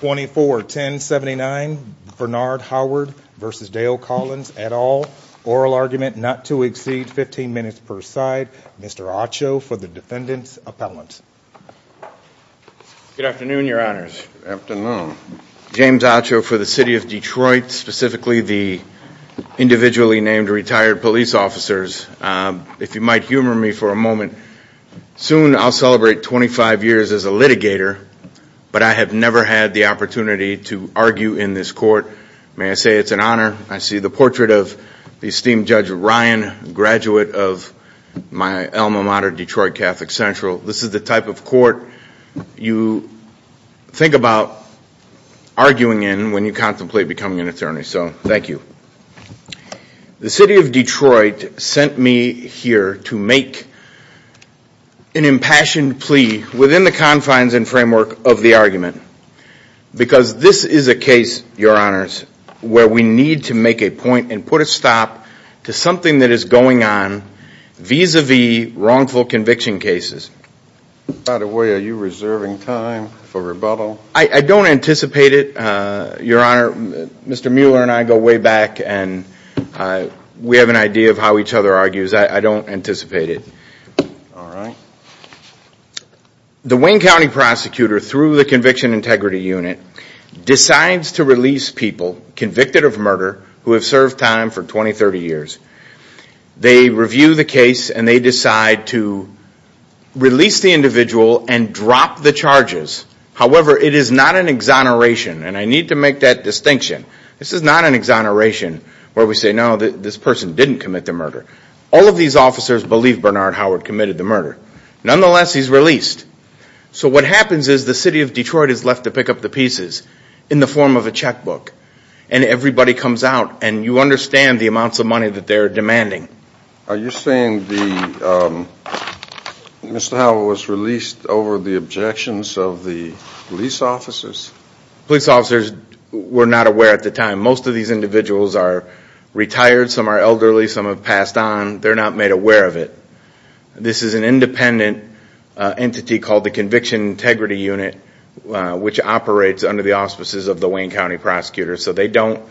24-10-79 Bernard Howard versus Dale Collins et al. Oral argument not to exceed 15 minutes per side. Mr. Ocho for the defendant's appellant. Good afternoon, your honors. Good afternoon. James Ocho for the city of Detroit, specifically the individually named retired police officers. If you might humor me for a moment, soon I'll celebrate 25 years as a litigator, but I have never had the opportunity to argue in this court. May I say it's an honor? I see the portrait of esteemed Judge Ryan, graduate of my alma mater, Detroit Catholic Central. This is the type of court you think about arguing in when you contemplate becoming an attorney. So thank you. The city of Detroit sent me here to make an impassioned plea within the confines and framework of the argument. Because this is a case, your honors, where we need to make a point and put a stop to something that is going on vis-a-vis wrongful conviction cases. By the way, are you reserving time for rebuttal? I don't anticipate it, your honor. Mr. Mueller and I go way back, and we have an idea of how each other argues. I don't anticipate it. The Wayne County prosecutor, through the Conviction Integrity Unit, decides to release people convicted of murder who have served time for 20, 30 years. They review the case, and they decide to release the individual and drop the charges. However, it is not an exoneration, and I need to make that distinction. This is not an exoneration where we say, no, this person didn't commit the murder. All of these officers believe Bernard Howard committed the murder. Nonetheless, he's released. So what happens is the city of Detroit is left to pick up the pieces in the form of a checkbook. And everybody comes out, and you understand the amounts of money that they're demanding. Are you saying Mr. Howard was released over the objections of the police officers? Police officers were not aware at the time. Most of these individuals are retired. Some are elderly. Some have passed on. They're not made aware of it. This is an independent entity called the Conviction Integrity Unit, which operates under the auspices of the Wayne County Prosecutor. So they don't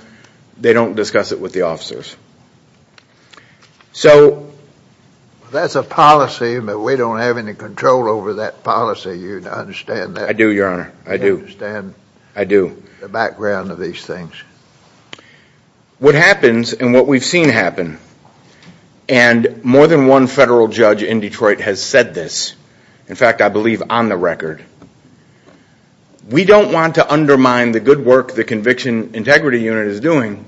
discuss it with the officers. So that's a policy, but we don't have any control over that policy. You understand that? I do, Your Honor. I do. I understand the background of these things. What happens, and what we've seen happen, and more than one federal judge in Detroit has said this. In fact, I believe on the record. We don't want to undermine the good work the Conviction Integrity Unit is doing.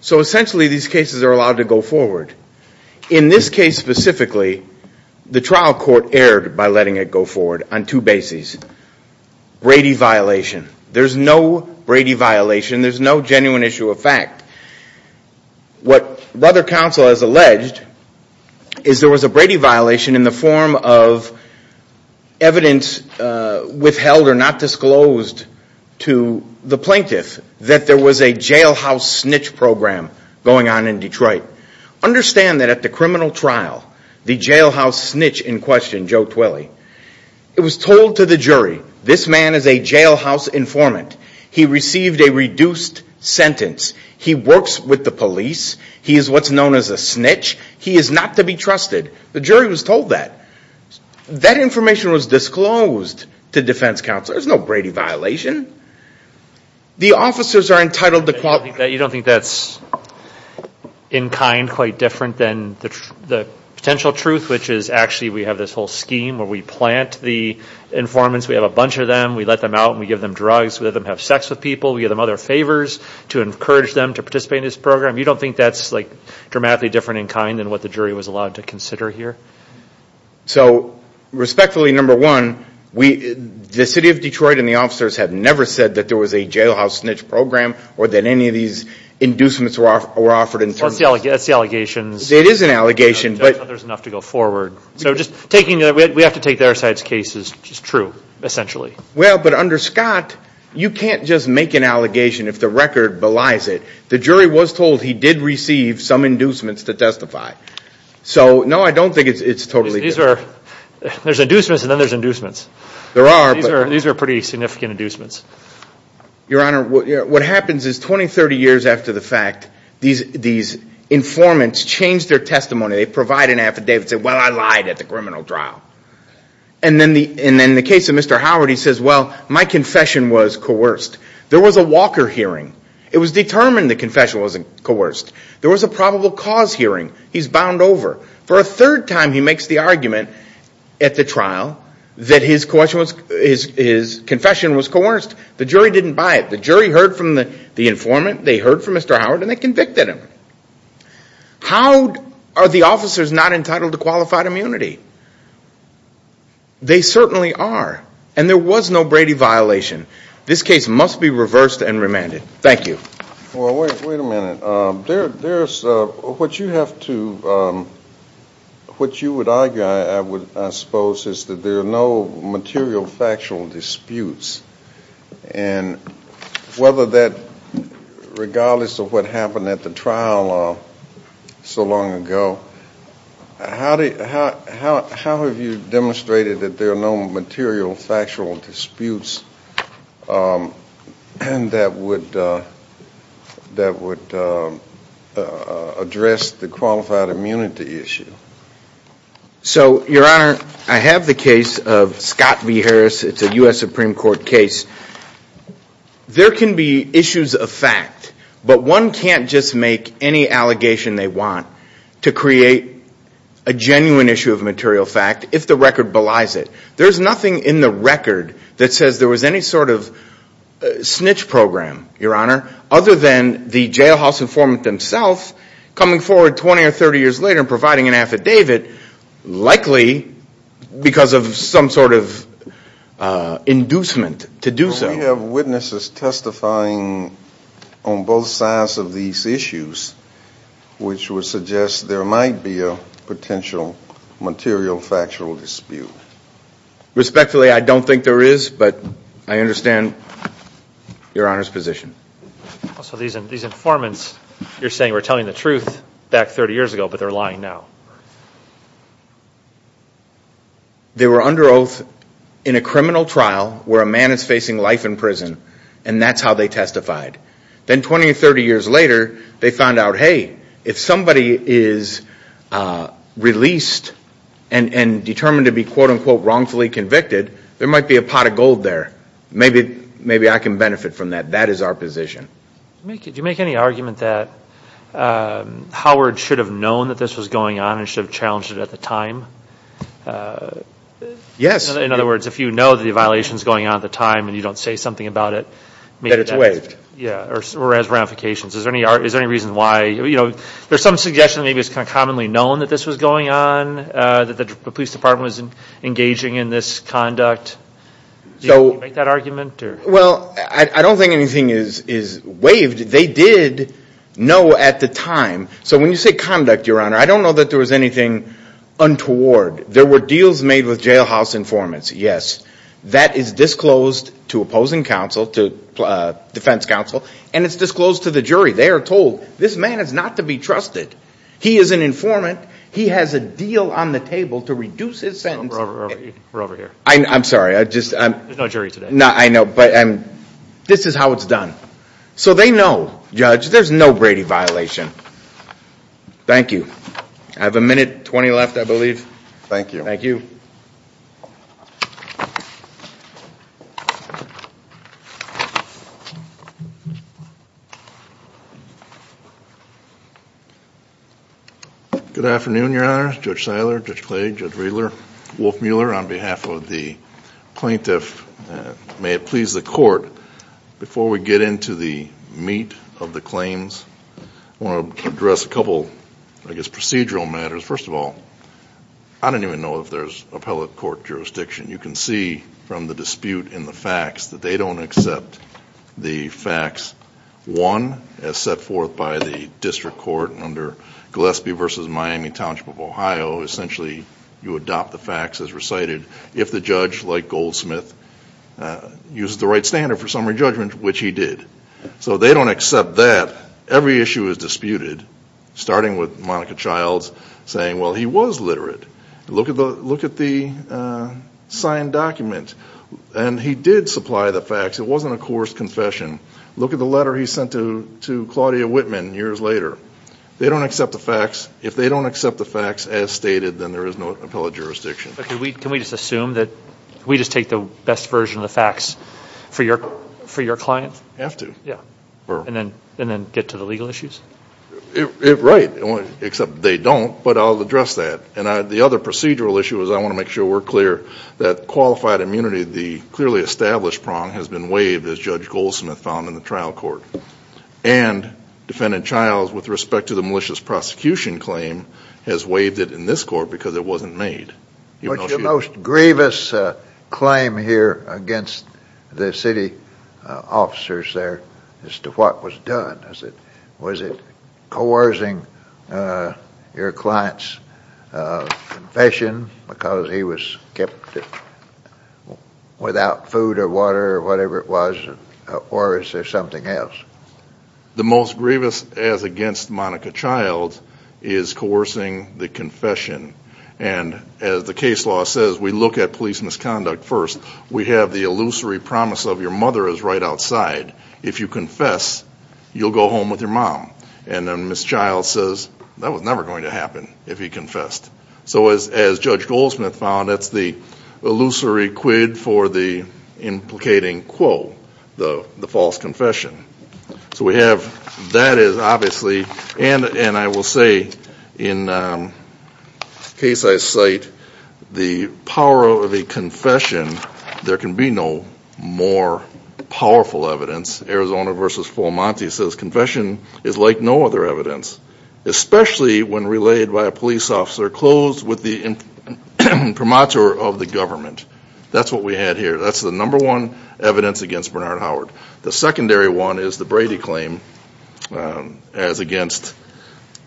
So essentially, these cases are allowed to go forward. In this case specifically, the trial court erred by letting it go forward on two bases. Brady violation. There's no Brady violation. There's no genuine issue of fact. What Brother Counsel has alleged is there was a Brady violation in the form of evidence withheld or not disclosed to the plaintiff that there was a jailhouse snitch program going on in Detroit. Understand that at the criminal trial, the jailhouse snitch in question, Joe Twilley, it was told to the jury, this man is a jailhouse informant. He received a reduced sentence. He works with the police. He is what's known as a snitch. He is not to be trusted. The jury was told that. That information was disclosed to defense counsel. There's no Brady violation. The officers are entitled to qualify. You don't think that's in kind quite different than the potential truth, which is actually we have this whole scheme where we plant the informants. We have a bunch of them. We let them out. We give them drugs. We let them have sex with people. We give them other favors to encourage them to participate in this program. You don't think that's dramatically different in kind than what the jury was allowed to consider here? So respectfully, number one, the city of Detroit and the officers have never said that there was a jailhouse snitch program or that any of these inducements were offered in terms of this. That's the allegations. It is an allegation. But there's enough to go forward. So just taking that we have to take their side's case is just true, essentially. Well, but under Scott, you can't just make an allegation if the record belies it. The jury was told he did receive some inducements to testify. So no, I don't think it's totally true. There's inducements, and then there's inducements. These are pretty significant inducements. Your Honor, what happens is 20, 30 years after the fact, these informants change their testimony. They provide an affidavit and say, well, I lied at the criminal trial. And then in the case of Mr. Howard, he says, well, my confession was coerced. There was a Walker hearing. It was determined the confession wasn't coerced. There was a probable cause hearing. He's bound over. For a third time, he makes the argument at the trial that his confession was coerced. The jury didn't buy it. The jury heard from the informant, they heard from Mr. Howard, and they convicted him. How are the officers not entitled to qualified immunity? They certainly are. And there was no Brady violation. This case must be reversed and remanded. Thank you. Well, wait a minute. What you would argue, I suppose, is that there are no material factual disputes. And whether that, regardless of what happened in the trial so long ago, how have you demonstrated that there are no material factual disputes that would address the qualified immunity issue? So, Your Honor, I have the case of Scott v. Harris. It's a US Supreme Court case. There can be issues of fact, but one can't just make any allegation they want to create a genuine issue of material fact if the record belies it. There's nothing in the record that says there was any sort of snitch program, Your Honor, other than the jailhouse informant themselves coming forward 20 or 30 years later and providing an affidavit, likely because of some sort of inducement to do so. We have witnesses testifying on both sides of these issues, which would suggest there might be a potential material factual dispute. Respectfully, I don't think there is, but I understand Your Honor's position. So these informants you're saying were telling the truth back 30 years ago, but they're lying now. They were under oath in a criminal trial where a man is facing life in prison, and that's how they testified. Then 20 or 30 years later, they found out, hey, if somebody is released and determined to be quote unquote wrongfully convicted, there might be a pot of gold there. Maybe I can benefit from that. That is our position. Do you make any argument that Howard should have known that this was going on and should have challenged it at the time? Yes. In other words, if you know the violations going on at the time and you don't say something about it, maybe that's it. Yeah, or as ramifications. Is there any reason why? There's some suggestion maybe it's commonly known that this was going on, that the police department was engaging in this conduct. Do you make that argument? Well, I don't think anything is waived. They did know at the time. So when you say conduct, Your Honor, I don't know that there was anything untoward. There were deals made with jailhouse informants. That is disclosed to opposing counsel, to defense counsel. And it's disclosed to the jury. They are told, this man is not to be trusted. He is an informant. He has a deal on the table to reduce his sentence. We're over here. I'm sorry. I just. There's no jury today. No, I know. But this is how it's done. So they know, Judge, there's no Brady violation. Thank you. I have a minute 20 left, I believe. Thank you. Thank you. Good afternoon, Your Honor, Judge Seiler, Judge Clay, Judge Riedler, Wolf Mueller. On behalf of the plaintiff, may it please the court, before we get into the meat of the claims, I want to address a couple, I guess, procedural matters. First of all, I don't even know if there's appellate court jurisdiction. You can see from the dispute in the facts that they don't accept the facts. One, as set forth by the district court under Gillespie versus Miami Township of Ohio, essentially you adopt the facts as recited if the judge, like Goldsmith, uses the right standard for summary judgment, which he did. So they don't accept that. Every issue is disputed, starting with Monica Child's saying, well, he was literate. Look at the signed document. And he did supply the facts. It wasn't a coarse confession. Look at the letter he sent to Claudia Whitman years later. They don't accept the facts. If they don't accept the facts as stated, then there is no appellate jurisdiction. Can we just assume that we just take the best version of the facts for your client? Have to. And then get to the legal issues? Right, except they don't. But I'll address that. And the other procedural issue is I want to make sure we're clear that qualified immunity, the clearly established prong, has been waived, as Judge Goldsmith found in the trial court. And Defendant Childs, with respect to the malicious prosecution claim, has waived it in this court because it wasn't made. What's your most grievous claim here against the city officers there as to what was done? Was it coercing your client's confession because he was kept without food or water or whatever it was? Or is there something else? The most grievous as against Monica Childs is coercing the confession. And as the case law says, we look at police misconduct first. We have the illusory promise of your mother is right outside. If you confess, you'll go home with your mom. And then Ms. Childs says, that was never going to happen if he confessed. So as Judge Goldsmith found, that's the illusory quid for the implicating quo, the false confession. So we have that is obviously. And I will say, in the case I cite, the power of a confession, there can be no more powerful evidence. Arizona versus Fulmonte says confession is like no other evidence, especially when relayed by a police officer closed with the imprimatur of the government. That's what we had here. That's the number one evidence against Bernard Howard. The secondary one is the Brady claim as against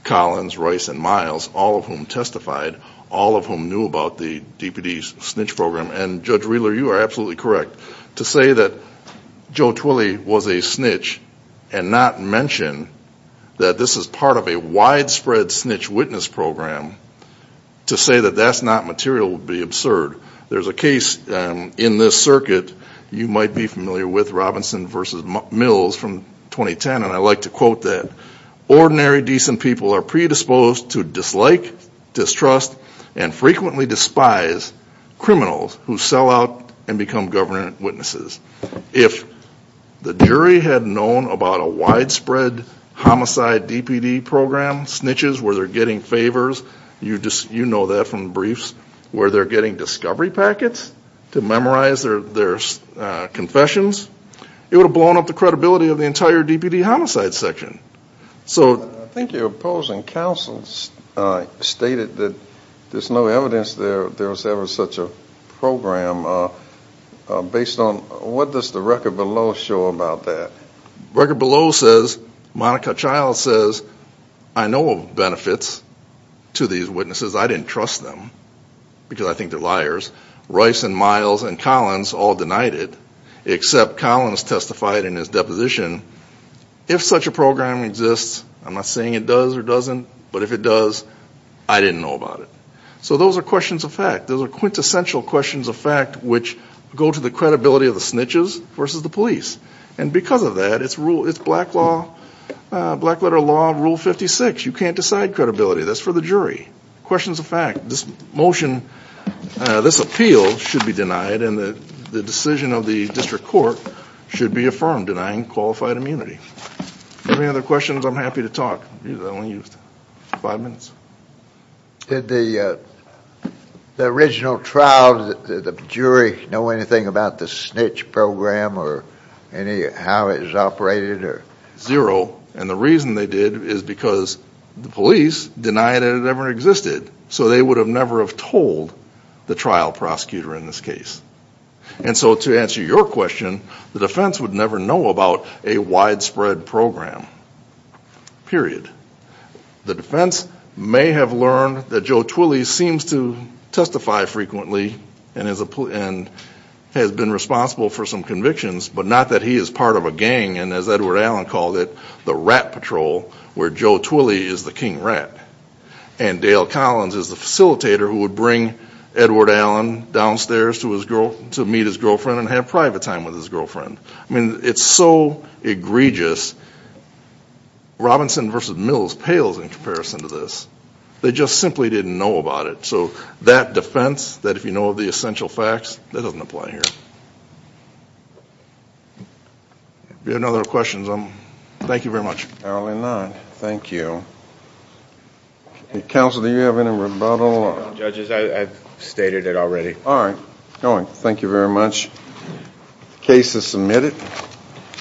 Collins, Rice, and Miles, all of whom testified, all of whom knew about the DPD's snitch program. And Judge Wheeler, you are absolutely correct. To say that Joe Twilley was a snitch and not mention that this is part of a widespread snitch witness program, to say that that's not material would be absurd. There's a case in this circuit you might be familiar with, Robinson versus Mills from 2010. And I like to quote that. Ordinary, decent people are predisposed to dislike, distrust, and frequently despise criminals who sell out and become government witnesses. If the jury had known about a widespread homicide DPD program, snitches where they're getting favors, you know that from the briefs, where they're getting discovery packets to memorize their confessions, it would have blown up the credibility of the entire DPD homicide section. So I think your opposing counsel stated that there's no evidence there was ever such a program. Based on what does the record below show about that? Record below says, Monica Child says, I know of benefits to these witnesses. I didn't trust them, because I think they're liars. Rice and Miles and Collins all denied it, except Collins testified in his deposition, if such a program exists. I'm not saying it does or doesn't, but if it does, I didn't know about it. So those are questions of fact. Those are quintessential questions of fact, which go to the credibility of the snitches versus the police. And because of that, it's black letter law, rule 56. You can't decide credibility. That's for the jury. Questions of fact. This motion, this appeal should be denied, and the decision of the district court should be affirmed, denying qualified immunity. Any other questions? I'm happy to talk. I only used five minutes. Did the original trial, did the jury know anything about the snitch program, or how it was operated? Zero. And the reason they did is because the police denied it had ever existed. So they would have never have told the trial prosecutor in this case. And so to answer your question, the defense would never know about a widespread program, period. The defense may have learned that Joe Twilley seems to testify frequently and has been responsible for some convictions, but not that he is part of a gang, and as Edward Allen called it, the rat patrol, where Joe Twilley is the king rat. And Dale Collins is the facilitator who would bring Edward Allen downstairs to meet his girlfriend and have private time with his girlfriend. I mean, it's so egregious. Robinson versus Mills pales in comparison to this. They just simply didn't know about it. So that defense, that if you know of the essential facts, that doesn't apply here. If you have no other questions, thank you very much. I only have nine. Thank you. Counsel, do you have any rebuttal? Judges, I've stated it already. All right. Going. Thank you very much. Case is submitted.